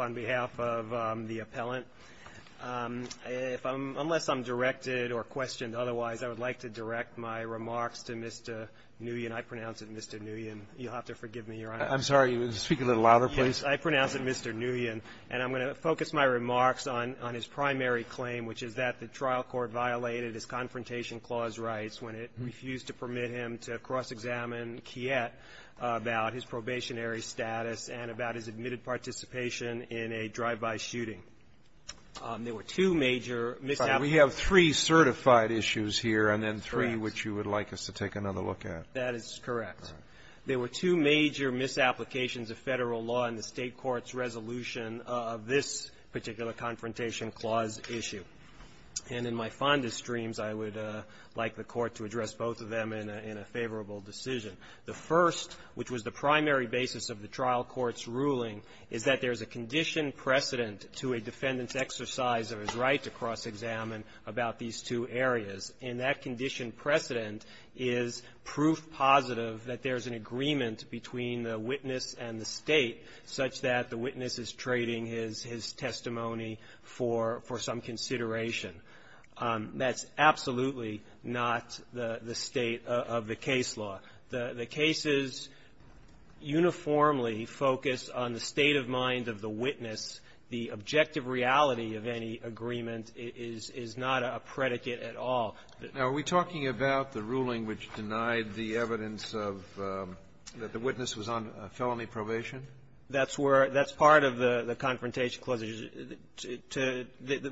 on behalf of the appellant, unless I'm directed or questioned otherwise, I would like to direct my remarks to Mr. Nguyen. I pronounce it Mr. Nguyen. You'll have to forgive me, Your Honor. I'm sorry. Speak a little louder, please. Yes. I pronounce it Mr. Nguyen. And I'm going to focus my remarks on his primary claim, which is that the trial court violated his Confrontation Clause rights when it refused to permit him to cross-examine Kiet about his probationary status and about his admitted participation in a drive-by shooting. There were two major misapplications. We have three certified issues here and then three which you would like us to take another look at. That is correct. All right. There were two major misapplications of federal law in the state court's resolution of this particular Confrontation Clause issue. And in my fondest dreams, I would like the Court to address both of them in a favorable decision. The first, which was the primary basis of the trial court's ruling, is that there's a condition precedent to a defendant's exercise of his right to cross-examine about these two areas. And that condition precedent is proof positive that there's an agreement between the witness and the State such that the witness is trading his testimony for some consideration. That's absolutely not the State of the case law. The cases uniformly focus on the state of mind of the witness. The objective reality of any agreement is not a predicate at all. Now, are we talking about the ruling which denied the evidence of the witness was on felony probation? That's where that's part of the Confrontation Clause.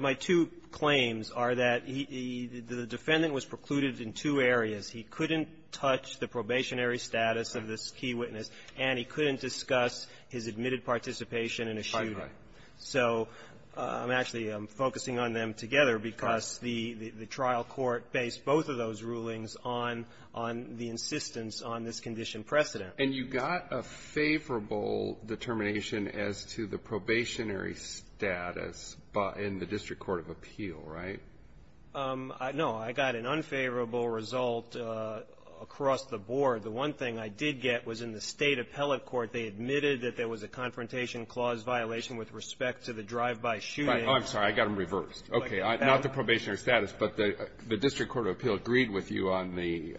My two claims are that the defendant was precluded in two areas. He couldn't touch the probationary status of this key witness, and he couldn't discuss his admitted participation in a shooting. Right, right. So I'm actually focusing on them together because the trial court based both of those rulings on the insistence on this condition precedent. And you got a favorable determination as to the probationary status in the district court of appeal, right? No. I got an unfavorable result across the board. The one thing I did get was in the State appellate court, they admitted that there I'm sorry. I got them reversed. Okay. Not the probationary status, but the district court of appeal agreed with you on the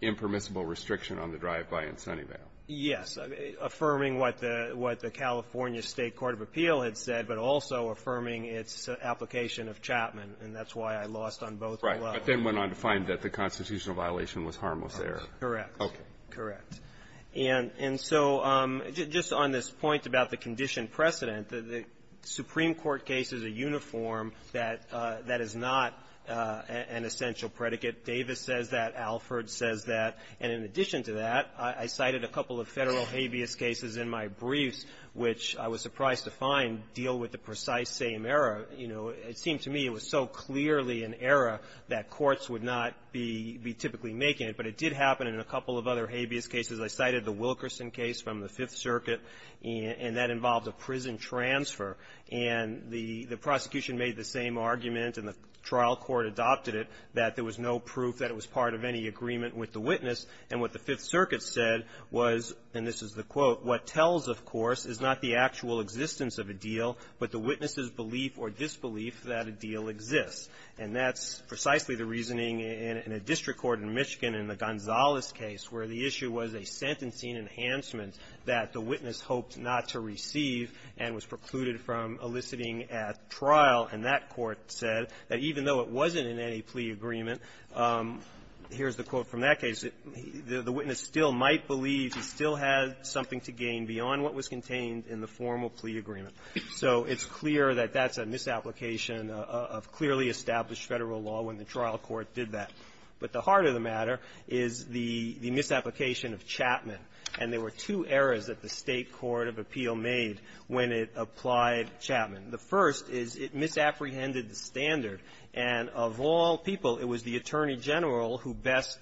impermissible restriction on the drive-by in Sunnyvale. Yes. Affirming what the California State court of appeal had said, but also affirming its application of Chapman. And that's why I lost on both levels. Right. But then went on to find that the constitutional violation was harmless error. Correct. Okay. Correct. And so just on this point about the condition precedent, the Supreme Court case is a uniform that is not an essential predicate. Davis says that. Alford says that. And in addition to that, I cited a couple of Federal habeas cases in my briefs, which I was surprised to find deal with the precise same error. You know, it seemed to me it was so clearly an error that courts would not be typically making it. But it did happen in a couple of other habeas cases. I cited the Wilkerson case from the Fifth Circuit, and that involved a prison transfer. And the prosecution made the same argument, and the trial court adopted it, that there was no proof that it was part of any agreement with the witness. And what the Fifth Circuit said was, and this is the quote, what tells, of course, is not the actual existence of a deal, but the witness's belief or disbelief that a deal exists. And that's precisely the reasoning in a district court in Michigan, in the Gonzalez case, where the issue was a sentencing enhancement that the witness hoped not to receive and was precluded from eliciting at trial. And that court said that even though it wasn't in any plea agreement, here's the quote from that case, the witness still might believe he still had something to gain beyond what was contained in the formal plea agreement. So it's clear that that's a misapplication of clearly established Federal law when the trial court did that. But the heart of the matter is the misapplication of Chapman. And there were two errors that the State court of appeal made when it applied Chapman. The first is it misapprehended the standard. And of all people, it was the Attorney General who best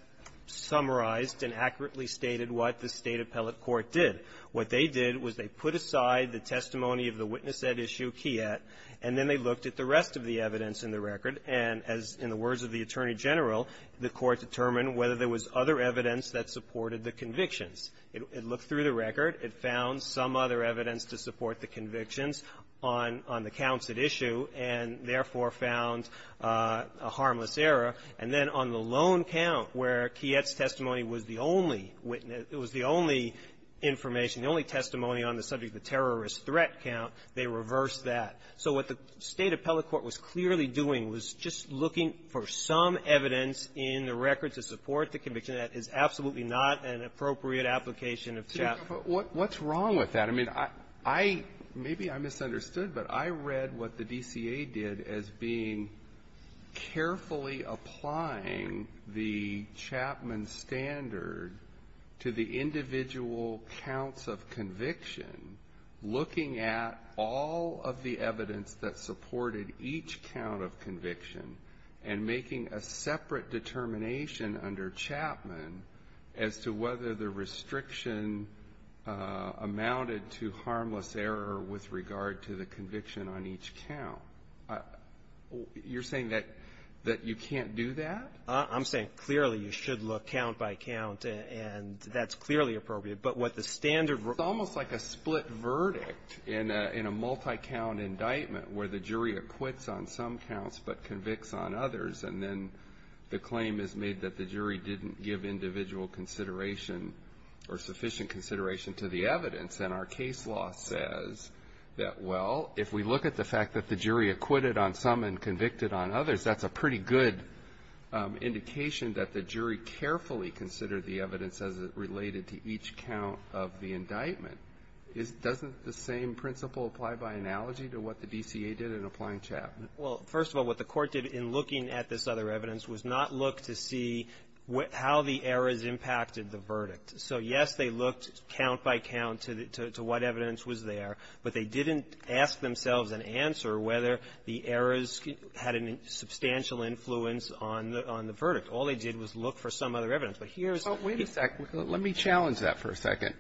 summarized and accurately stated what the State appellate court did. What they did was they put aside the testimony of the witness at issue, Kiet, and then they looked at the rest of the evidence in the record. And as in the words of the Attorney General, the court determined whether there was other evidence that supported the convictions. It looked through the record. It found some other evidence to support the convictions on the counts at issue, and therefore found a harmless error. And then on the lone count where Kiet's testimony was the only witness, it was the only information, the only testimony on the subject of the terrorist threat count, they reversed that. So what the State appellate court was clearly doing was just looking for some evidence in the record to support the conviction. That is absolutely not an appropriate application of Chapman. Breyer. But what's wrong with that? I mean, I – maybe I misunderstood, but I read what the DCA did as being carefully applying the Chapman standard to the individual counts of conviction, looking at all of the evidence that supported each count of conviction and making a separate determination under Chapman as to whether the restriction amounted to harmless error with regard to the conviction on each count. You're saying that you can't do that? I'm saying clearly you should look count by count, and that's clearly appropriate. But what the standard – It's almost like a split verdict in a multi-count indictment where the jury acquits on some counts but convicts on others, and then the claim is made that the jury didn't give individual consideration or sufficient consideration to the evidence. And our case law says that, well, if we look at the fact that the jury acquitted on some and convicted on others, that's a pretty good indication that the jury carefully considered the evidence as it related to each count of the indictment. Doesn't the same principle apply by analogy to what the DCA did in applying Chapman? Well, first of all, what the Court did in looking at this other evidence was not look to see how the errors impacted the verdict. So, yes, they looked count by count to what evidence was there, but they didn't ask themselves an answer whether the errors had a substantial influence on the verdict. All they did was look for some other evidence. But here's the case law. Wait a second. Let me challenge that for a second.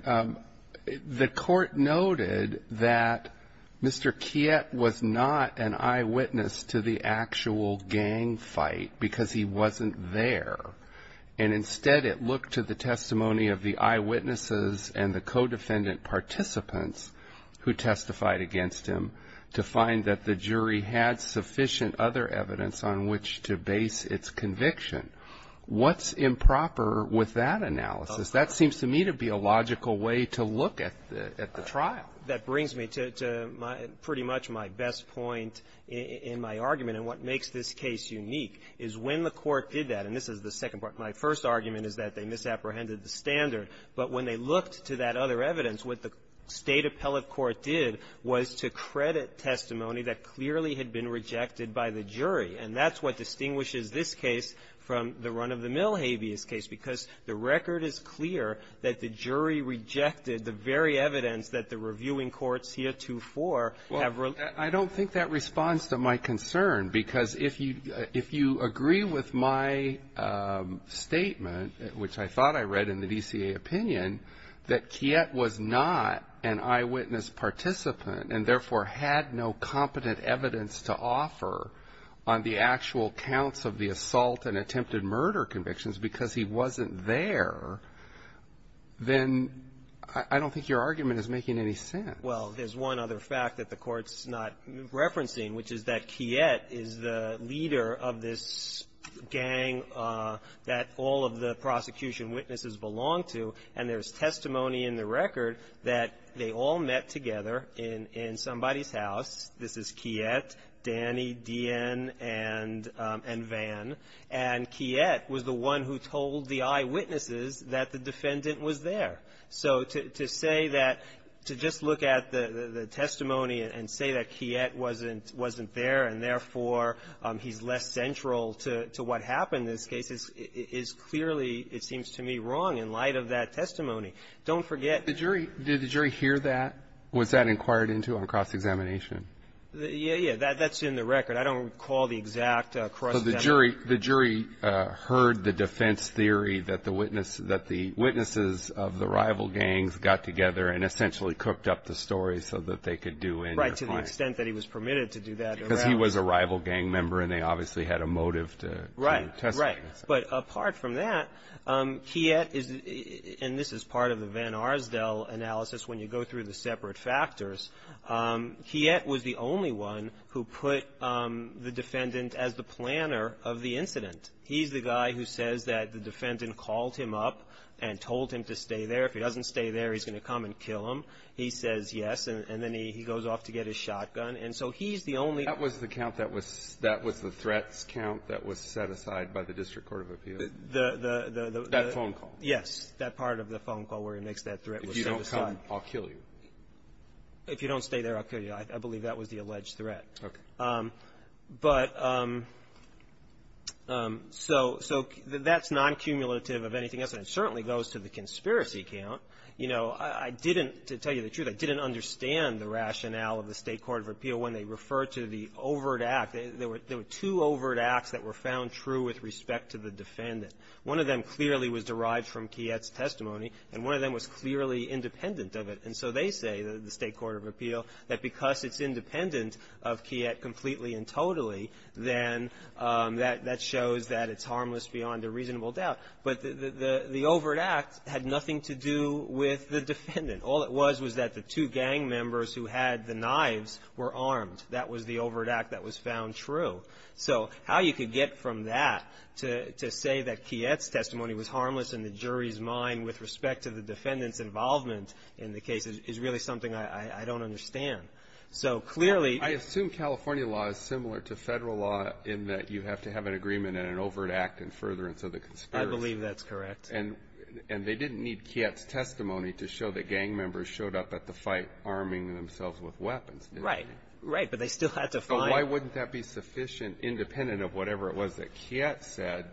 The Court noted that Mr. Kiet was not an eyewitness to the actual gang fight because he wasn't there, and instead it looked to the testimony of the eyewitnesses and the co-defendant participants who testified against him to find that the jury had sufficient other evidence on which to base its conviction. What's improper with that analysis? That seems to me to be a logical way to look at the trial. That brings me to pretty much my best point in my argument. And what makes this case unique is when the Court did that, and this is the second part, my first argument is that they misapprehended the standard. But when they looked to that other evidence, what the State appellate court did was to credit testimony that clearly had been rejected by the jury. And that's what distinguishes this case from the run-of-the-mill habeas case, because the record is clear that the jury rejected the very evidence that the reviewing courts here 2-4 have released. Well, I don't think that responds to my concern, because if you agree with my statement, which I thought I read in the DCA opinion, that Kiet was not an eyewitness participant and therefore had no competent evidence to offer on the actual counts of the assault and attempted murder convictions because he wasn't there, then I don't think your argument is making any sense. Well, there's one other fact that the Court's not referencing, which is that Kiet is the leader of this gang that all of the prosecution witnesses belong to, and there's testimony in the record that they all met together in somebody's house. This is Kiet, Danny, D.N., and Van. And Kiet was the one who told the eyewitnesses that the defendant was there. So to say that, to just look at the testimony and say that Kiet wasn't there and therefore he's less central to what happened in this case is clearly, it seems to me, wrong in light of that testimony. Don't forget the jury --- Did the jury hear that? Was that inquired into on cross-examination? Yeah, yeah. That's in the record. I don't recall the exact cross-examination. So the jury heard the defense theory that the witnesses of the rival gangs got together and essentially cooked up the story so that they could do in their plan. Right, to the extent that he was permitted to do that. Because he was a rival gang member and they obviously had a motive to testify. Right, right. But apart from that, Kiet is, and this is part of the Van Arsdell analysis when you go through the separate factors, Kiet was the only one who put the defendant as the planner of the incident. He's the guy who says that the defendant called him up and told him to stay there. If he doesn't stay there, he's going to come and kill him. He says yes, and then he goes off to get his shotgun. And so he's the only one. That was the count that was the threats count that was set aside by the District Court of Appeals. That phone call. Yes, that part of the phone call where he makes that threat was set aside. If you don't come, I'll kill you. If you don't stay there, I'll kill you. I believe that was the alleged threat. Okay. But so that's non-cumulative of anything else, and it certainly goes to the conspiracy count. You know, I didn't, to tell you the truth, I didn't understand the rationale of the State Court of Appeal when they referred to the overt act. There were two overt acts that were found true with respect to the defendant. One of them clearly was derived from Kiet's testimony, and one of them was clearly independent of it. And so they say, the State Court of Appeal, that because it's independent of Kiet completely and totally, then that shows that it's harmless beyond a reasonable doubt. But the overt act had nothing to do with the defendant. All it was was that the two gang members who had the knives were armed. That was the overt act that was found true. So how you could get from that to say that Kiet's testimony was harmless in the jury's mind with respect to the defendant's involvement in the case is really something I don't understand. So clearly ---- I assume California law is similar to Federal law in that you have to have an agreement in an overt act in furtherance of the conspiracy. I believe that's correct. And they didn't need Kiet's testimony to show that gang members showed up at the fight arming themselves with weapons, did they? Right. Right. But they still had to find ---- So why wouldn't that be sufficient, independent of whatever it was that Kiet said,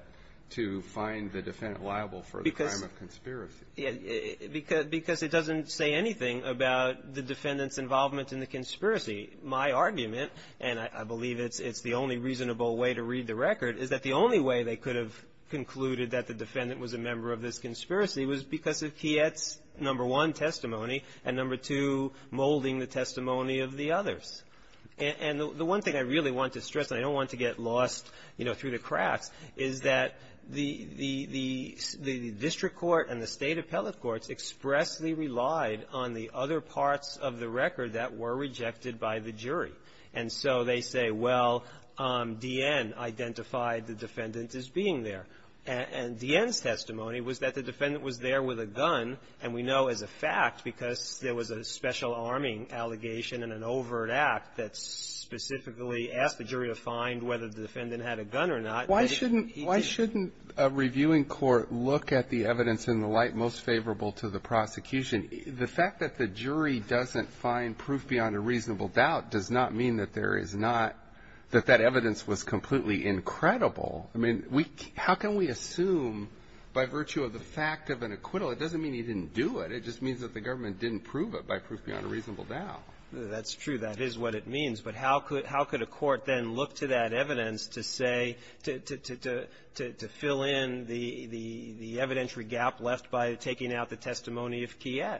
to find the defendant liable for the crime of conspiracy? Because it doesn't say anything about the defendant's involvement in the conspiracy. My argument, and I believe it's the only reasonable way to read the record, is that the only way they could have concluded that the defendant was a member of this conspiracy was because of Kiet's, number one, testimony, and, number two, molding the testimony of the others. And the one thing I really want to stress, and I don't want to get lost, you know, through the cracks, is that the district court and the State appellate courts expressly relied on the other parts of the record that were rejected by the jury. And so they say, well, D.N. identified the defendant as being there. And D.N.'s testimony was that the defendant was there with a gun, and we know as a fact because there was a special arming allegation in an overt act that specifically asked the jury to find whether the defendant had a gun or not. But he didn't. Why shouldn't a reviewing court look at the evidence in the light most favorable to the prosecution? The fact that the jury doesn't find proof beyond a reasonable doubt does not mean that there is not that that evidence was completely incredible. I mean, how can we assume by virtue of the fact of an acquittal? It doesn't mean he didn't do it. It just means that the government didn't prove it by proof beyond a reasonable That's true. That is what it means. But how could a court then look to that evidence to say, to fill in the evidentiary gap left by taking out the testimony of Kiet?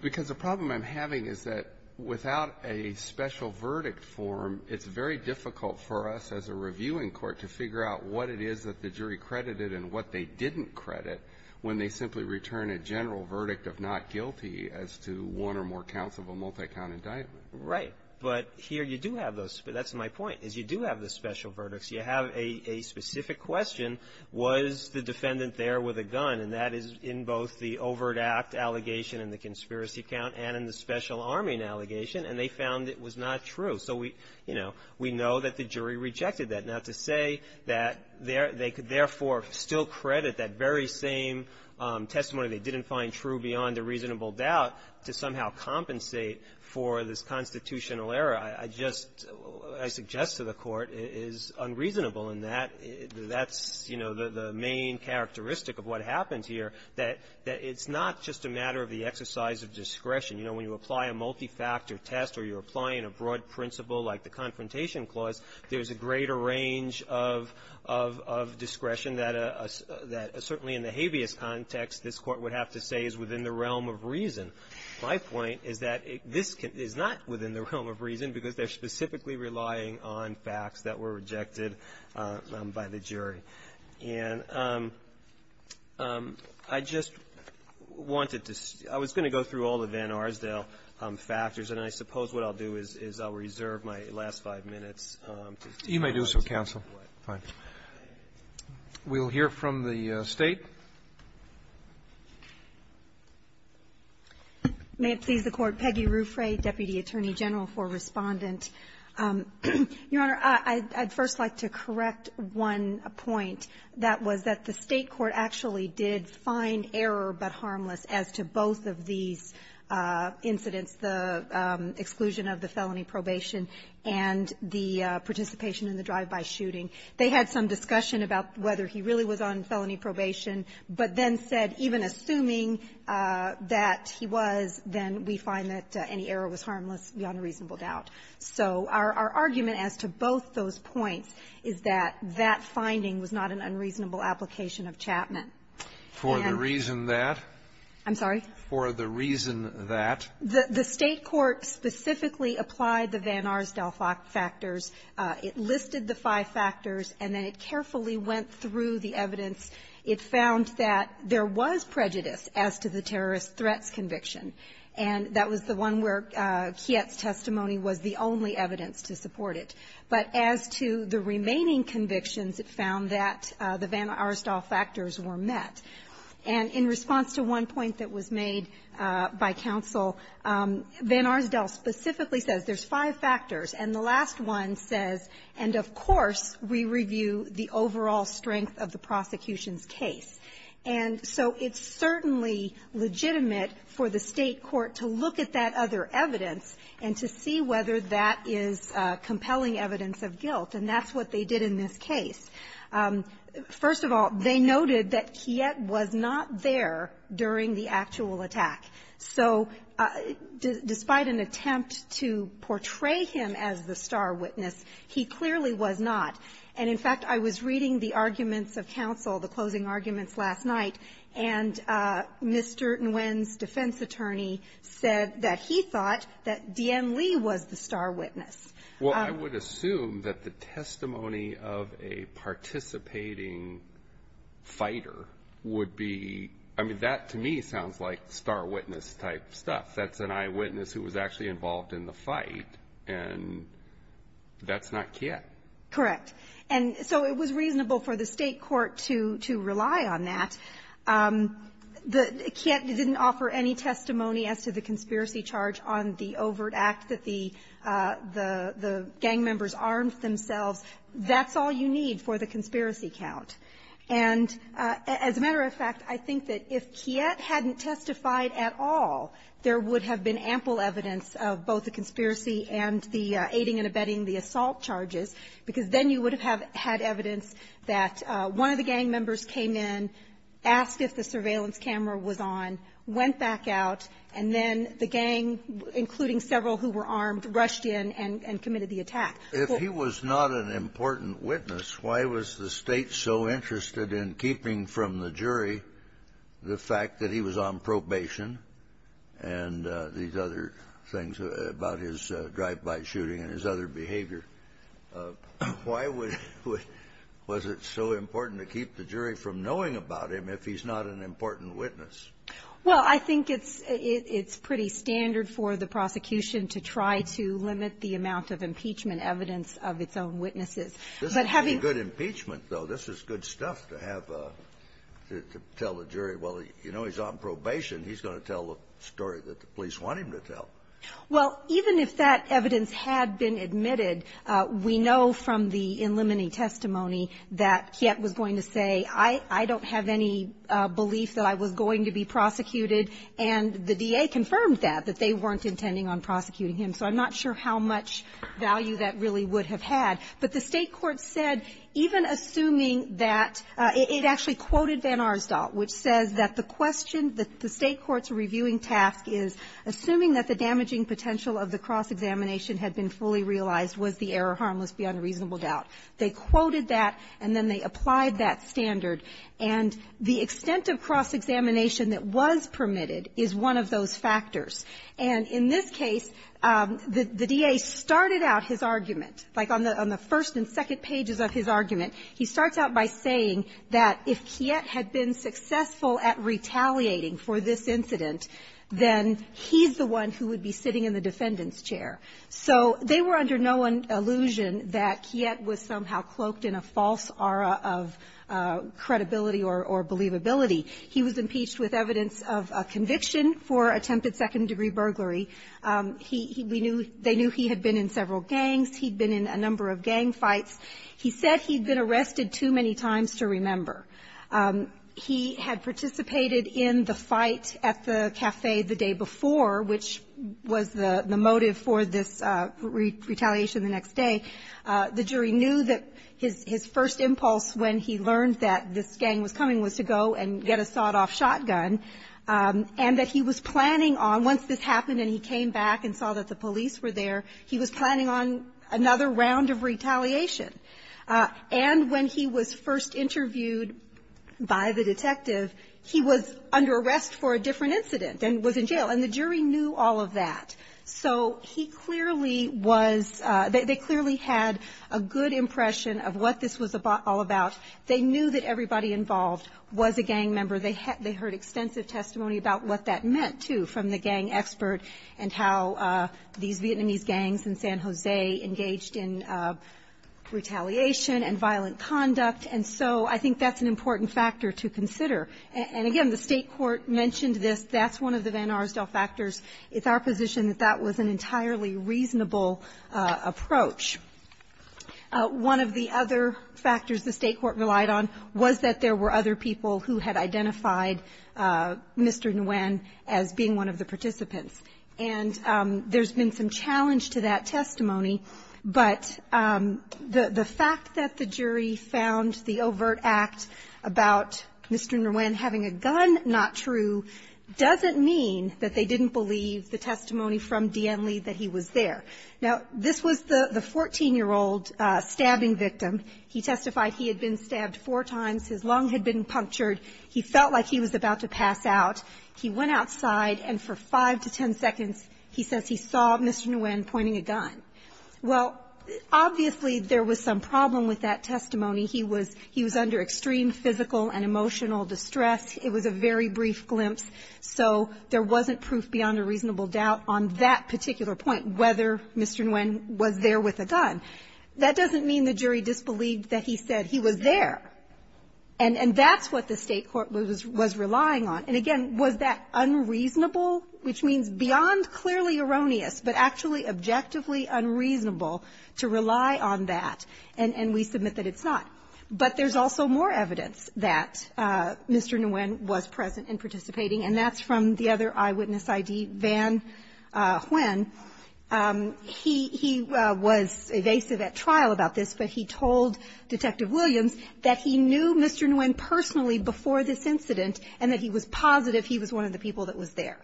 Because the problem I'm having is that without a special verdict form, it's very difficult for us as a reviewing court to figure out what it is that the jury credited and what they didn't credit when they simply return a general verdict of not guilty as to one or more counts of a multi-count indictment. Right. But here you do have those. That's my point, is you do have the special verdicts. You have a specific question, was the defendant there with a gun? And that is in both the overt act allegation and the conspiracy count and in the special arming allegation, and they found it was not true. So we, you know, we know that the jury rejected that. Now, to say that they could therefore still credit that very same testimony they didn't find true beyond a reasonable doubt to somehow compensate for this constitutional error, I just, I suggest to the Court, is unreasonable. And that's, you know, the main characteristic of what happens here, that it's not just a matter of the exercise of discretion. You know, when you apply a multi-factor test or you're applying a broad principle like the Confrontation Clause, there's a greater range of discretion that certainly in the habeas context, this Court would have to say is within the realm of reason. My point is that this is not within the realm of reason because they're specifically relying on facts that were rejected by the jury. And I just wanted to see – I was going to go through all the Van Arsdale factors, and I suppose what I'll do is I'll reserve my last five minutes. Roberts. You may do so, counsel. We'll hear from the State. May it please the Court. Peggy Rufre, Deputy Attorney General for Respondent. Your Honor, I'd first like to correct one point. That was that the State court actually did find error but harmless as to both of these incidents, the exclusion of the felony probation and the participation in the drive-by shooting. They had some discussion about whether he really was on felony probation, but then said even assuming that he was, then we find that any error was harmless beyond a reasonable doubt. So our argument as to both those points is that that finding was not an unreasonable application of Chapman. For the reason that? I'm sorry? For the reason that? The State court specifically applied the Van Arsdale factors. It listed the five factors, and then it carefully went through the evidence. It found that there was prejudice as to the terrorist threats conviction, and that was the one where Kiet's testimony was the only evidence to support it. But as to the remaining convictions, it found that the Van Arsdale factors were met. And in response to one point that was made by counsel, Van Arsdale specifically says there's five factors. And the last one says, and of course we review the overall strength of the prosecution's case. And so it's certainly legitimate for the State court to look at that other evidence and to see whether that is compelling evidence of guilt. And that's what they did in this case. First of all, they noted that Kiet was not there during the actual attack. So despite an attempt to portray him as the star witness, he clearly was not. And in fact, I was reading the arguments of counsel, the closing arguments last night, and Mr. Nguyen's defense attorney said that he thought that D.N. Lee was the star witness. Well, I would assume that the testimony of a participating fighter would be, I mean, that to me sounds like star witness-type stuff. That's an eyewitness who was actually involved in the fight, and that's not Kiet. Correct. And so it was reasonable for the State court to rely on that. Kiet didn't offer any testimony as to the conspiracy charge on the overt act that the gang members armed themselves. That's all you need for the conspiracy count. And as a matter of fact, I think that if Kiet hadn't testified at all, there would have been ample evidence of both the conspiracy and the aiding and abetting the assault charges, because then you would have had evidence that one of the gang members came in, asked if the surveillance camera was on, went back out, and then the gang, including several who were armed, rushed in and committed the attack. If he was not an important witness, why was the State so interested in keeping from the jury the fact that he was on probation and these other things about his drive-by shooting and his other behavior? Why was it so important to keep the jury from knowing about him if he's not an important witness? Well, I think it's pretty standard for the prosecution to try to limit the amount of impeachment evidence of its own witnesses. This is good impeachment, though. This is good stuff to have to tell the jury, well, you know, he's on probation. He's going to tell the story that the police want him to tell. Well, even if that evidence had been admitted, we know from the in-limiting testimony that Kiet was going to say, I don't have any belief that I was going to be prosecuted, and the D.A. confirmed that, that they weren't intending on prosecuting him. So I'm not sure how much value that really would have had. But the State court said, even assuming that — it actually quoted Van Arsdale, which says that the question that the State court's reviewing task is, assuming that the damaging potential of the cross-examination had been fully realized, was the error harmless beyond reasonable doubt? They quoted that, and then they applied that standard. And the extent of cross-examination that was permitted is one of those factors. And in this case, the D.A. started out his argument, like on the first and second pages of his argument, he starts out by saying that if Kiet had been successful at retaliating for this incident, then he's the one who would be sitting in the defendant's chair. So they were under no illusion that Kiet was somehow cloaked in a false aura of credit credibility or believability. He was impeached with evidence of a conviction for attempted second-degree burglary. He — we knew — they knew he had been in several gangs. He'd been in a number of gang fights. He said he'd been arrested too many times to remember. He had participated in the fight at the café the day before, which was the motive for this retaliation the next day. And the jury knew that his — his first impulse when he learned that this gang was coming was to go and get a sawed-off shotgun, and that he was planning on — once this happened and he came back and saw that the police were there, he was planning on another round of retaliation. And when he was first interviewed by the detective, he was under arrest for a different incident and was in jail. And the jury knew all of that. So he clearly was — they clearly had a good impression of what this was all about. They knew that everybody involved was a gang member. They heard extensive testimony about what that meant, too, from the gang expert and how these Vietnamese gangs in San Jose engaged in retaliation and violent conduct. And so I think that's an important factor to consider. And again, the state court mentioned this. That's one of the Van Arsdell factors. It's our position that that was an entirely reasonable approach. One of the other factors the state court relied on was that there were other people who had identified Mr. Nguyen as being one of the participants. And there's been some challenge to that testimony. But the fact that the jury found the overt act about Mr. Nguyen having a gun not true doesn't mean that they didn't believe the testimony from Dien Le that he was there. Now, this was the 14-year-old stabbing victim. He testified he had been stabbed four times. His lung had been punctured. He felt like he was about to pass out. He went outside, and for 5 to 10 seconds, he says he saw Mr. Nguyen pointing a gun. Well, obviously, there was some problem with that testimony. He was — he was under extreme physical and emotional distress. It was a very brief glimpse. So there wasn't proof beyond a reasonable doubt on that particular point, whether Mr. Nguyen was there with a gun. That doesn't mean the jury disbelieved that he said he was there. And that's what the state court was relying on. And again, was that unreasonable? Which means beyond clearly erroneous, but actually objectively unreasonable to rely on that. And we submit that it's not. But there's also more evidence that Mr. Nguyen was present and participating, and that's from the other eyewitness I.D., Van Nguyen. He was evasive at trial about this, but he told Detective Williams that he knew Mr. Nguyen personally before this incident, and that he was positive he was one of the people that was there.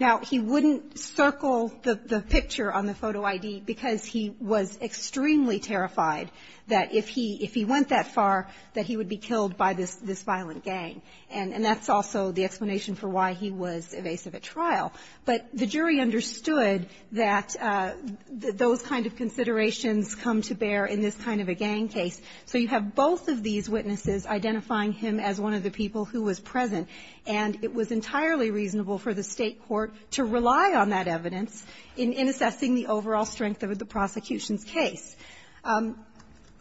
Now, he wouldn't circle the picture on the photo I.D. because he was extremely terrified that if he — if he went that far, that he would be killed by this — this violent gang. And that's also the explanation for why he was evasive at trial. But the jury understood that those kind of considerations come to bear in this kind of a gang case. So you have both of these witnesses identifying him as one of the people who was present. And it was entirely reasonable for the State court to rely on that evidence in assessing the overall strength of the prosecution's case.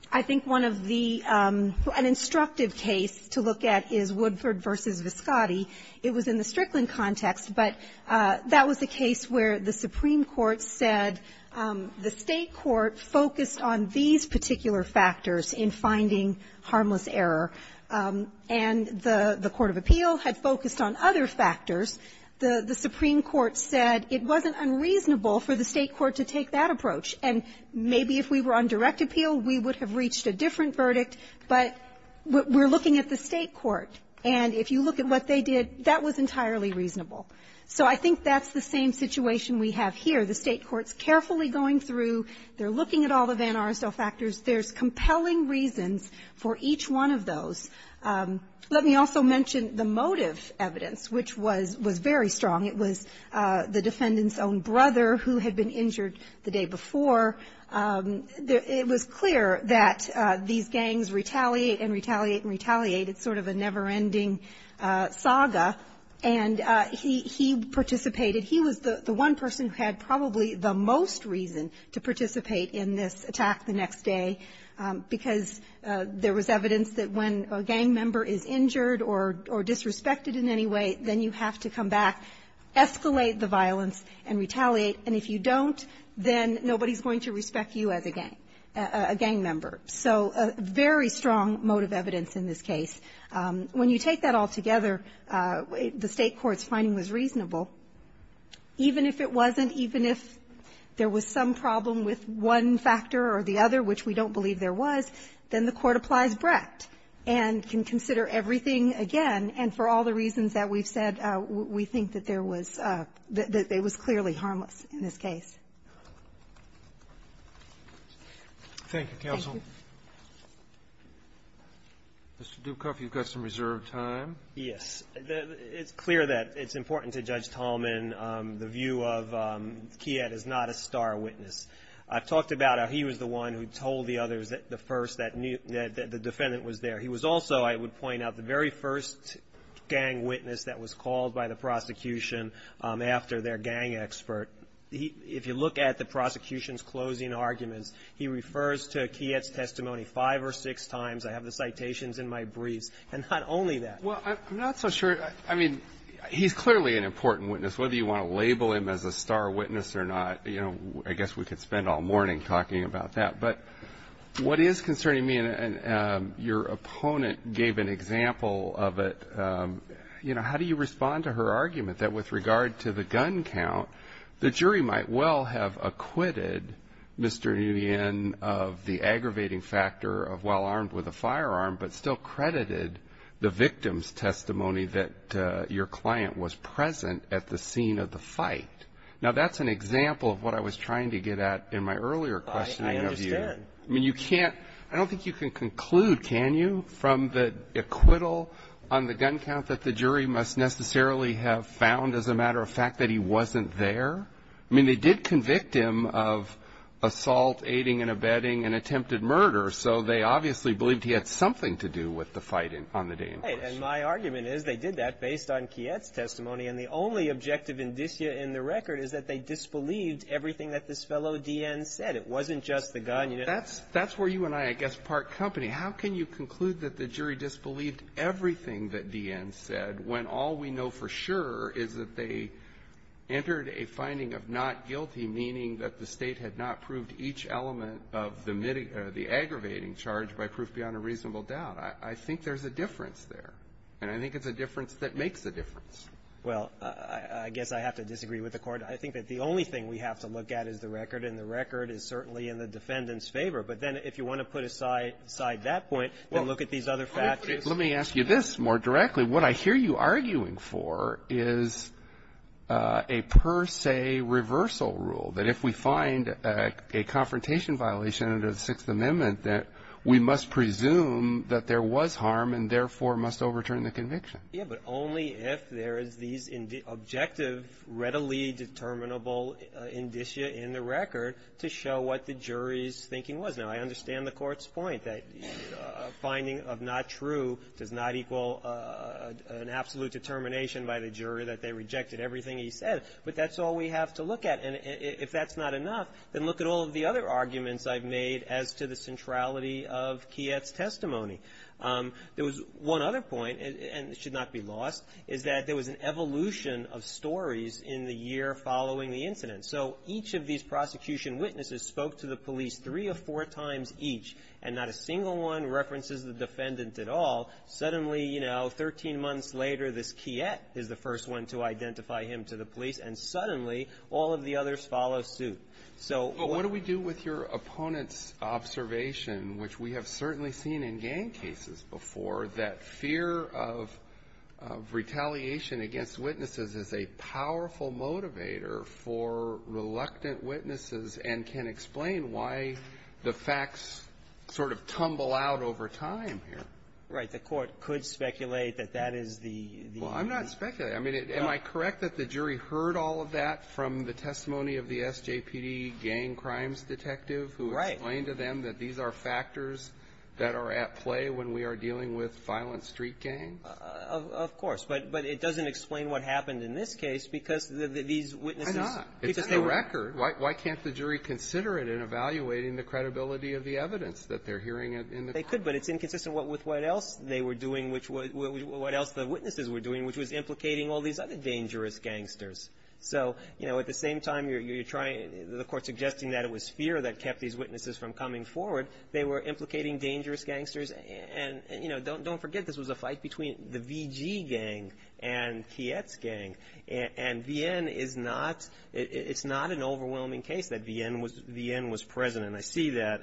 I think one of the — an instructive case to look at is Woodford v. Viscotti. It was in the Strickland context, but that was a case where the Supreme Court said the State court focused on these particular factors in finding harmless error. And the court of appeal had focused on other factors. The Supreme Court said it wasn't unreasonable for the State court to take that approach. And maybe if we were on direct appeal, we would have reached a different verdict. But we're looking at the State court. And if you look at what they did, that was entirely reasonable. So I think that's the same situation we have here. The State court's carefully going through. They're looking at all the Van Arsel factors. There's compelling reasons for each one of those. Let me also mention the motive evidence, which was very strong. It was the defendant's own brother who had been injured the day before. It was clear that these gangs retaliate and retaliate and retaliate. It's sort of a never-ending saga. And he participated. He was the one person who had probably the most reason to participate in this attack the next day, because there was evidence that when a gang member is injured or disrespected in any way, then you have to come back, escalate the violence, and retaliate. And if you don't, then nobody's going to respect you as a gang member. So very strong motive evidence in this case. When you take that all together, the State court's finding was reasonable. Even if it wasn't, even if there was some problem with one factor or the other, which we don't believe there was, then the court applies Brecht and can consider everything again. And for all the reasons that we've said, we think that there was – that it was clearly harmless in this case. Roberts. Thank you, counsel. Mr. Dukoff, you've got some reserved time. Yes. It's clear that it's important to Judge Tallman the view of Kiet is not a star witness. I've talked about how he was the one who told the others at the first that the defendant was there. He was also, I would point out, the very first gang witness that was called by the prosecution after their gang expert. If you look at the prosecution's closing arguments, he refers to Kiet's testimony five or six times. I have the citations in my briefs. And not only that. Well, I'm not so sure – I mean, he's clearly an important witness. Whether you want to label him as a star witness or not, you know, I guess we could spend all morning talking about that. But what is concerning me, and your opponent gave an example of it, you know, how do you respond to her argument that with regard to the gun count, the jury might well have acquitted Mr. Nguyen of the aggravating factor of while armed with a firearm. I mean, you can't – I don't think you can conclude, can you, from the acquittal on the gun count that the jury must necessarily have found, as a matter of fact, that he wasn't there. I mean, they did convict him of assault, aiding and abetting, and attempted murder. So they obviously believed he had something to do with the fight on the day in question. fact, that he wasn't there. My argument is they did that based on Kiet's testimony, and the only objective indicia in the record is that they disbelieved everything that this fellow D.N. said. It wasn't just the gun. That's where you and I, I guess, part company. How can you conclude that the jury disbelieved everything that D.N. said when all we know for sure is that they entered a finding of not guilty, meaning that the State had not proved each element of the aggravating charge by proof beyond a reasonable doubt. I think there's a difference there, and I think it's a difference that makes a difference. Well, I guess I have to disagree with the Court. I think that the only thing we have to look at is the record, and the record is certainly in the defendant's favor. But then if you want to put aside that point and look at these other factors. Let me ask you this more directly. What I hear you arguing for is a per se reversal rule, that if we find a confrontation violation under the Sixth Amendment, that we must presume that there was harm and therefore must overturn the conviction. Yeah, but only if there is these objective, readily determinable indicia in the record to show what the jury's thinking was. Now, I understand the Court's point that a finding of not true does not equal an absolute determination by the jury that they rejected everything he said. But that's all we have to look at. And if that's not enough, then look at all of the other arguments I've made as to the centrality of Kiet's testimony. There was one other point, and it should not be lost, is that there was an evolution of stories in the year following the incident. So each of these prosecution witnesses spoke to the police three or four times each, and not a single one references the defendant at all. Suddenly, you know, 13 months later, this Kiet is the first one to identify him to the jury, and the others follow suit. So what do we do with your opponent's observation, which we have certainly seen in gang cases before, that fear of retaliation against witnesses is a powerful motivator for reluctant witnesses and can explain why the facts sort of tumble out over time here. The Court could speculate that that is the --. Well, I'm not speculating. I mean, am I correct that the jury heard all of that from the testimony of the SJPD gang crimes detective who explained to them that these are factors that are at play when we are dealing with violent street gangs? Of course. But it doesn't explain what happened in this case because these witnesses --. Why not? It's a record. Why can't the jury consider it in evaluating the credibility of the evidence that they're hearing in the court? They could, but it's inconsistent with what else they were doing, what else the witnesses were doing, which was implicating all these other dangerous gangsters. So, you know, at the same time, you're trying to --. The Court suggesting that it was fear that kept these witnesses from coming forward. They were implicating dangerous gangsters. And, you know, don't forget this was a fight between the VG gang and Kiet's gang. And VN is not --. It's not an overwhelming case that VN was present. And I see that.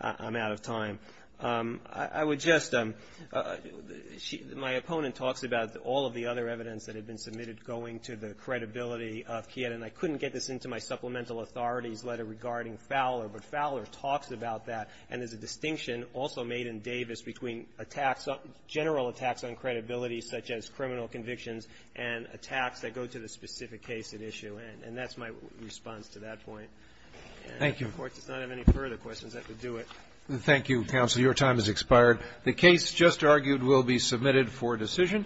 I'm out of time. I would just -- my opponent talks about all of the other evidence that had been submitted going to the credibility of Kiet. And I couldn't get this into my supplemental authorities letter regarding Fowler. But Fowler talks about that. And there's a distinction also made in Davis between attacks, general attacks on credibility such as criminal convictions and attacks that go to the specific case at issue. And that's my response to that point. And if the Court does not have any further questions, I could do it. Thank you, Counsel. Your time has expired. The case just argued will be submitted for decision.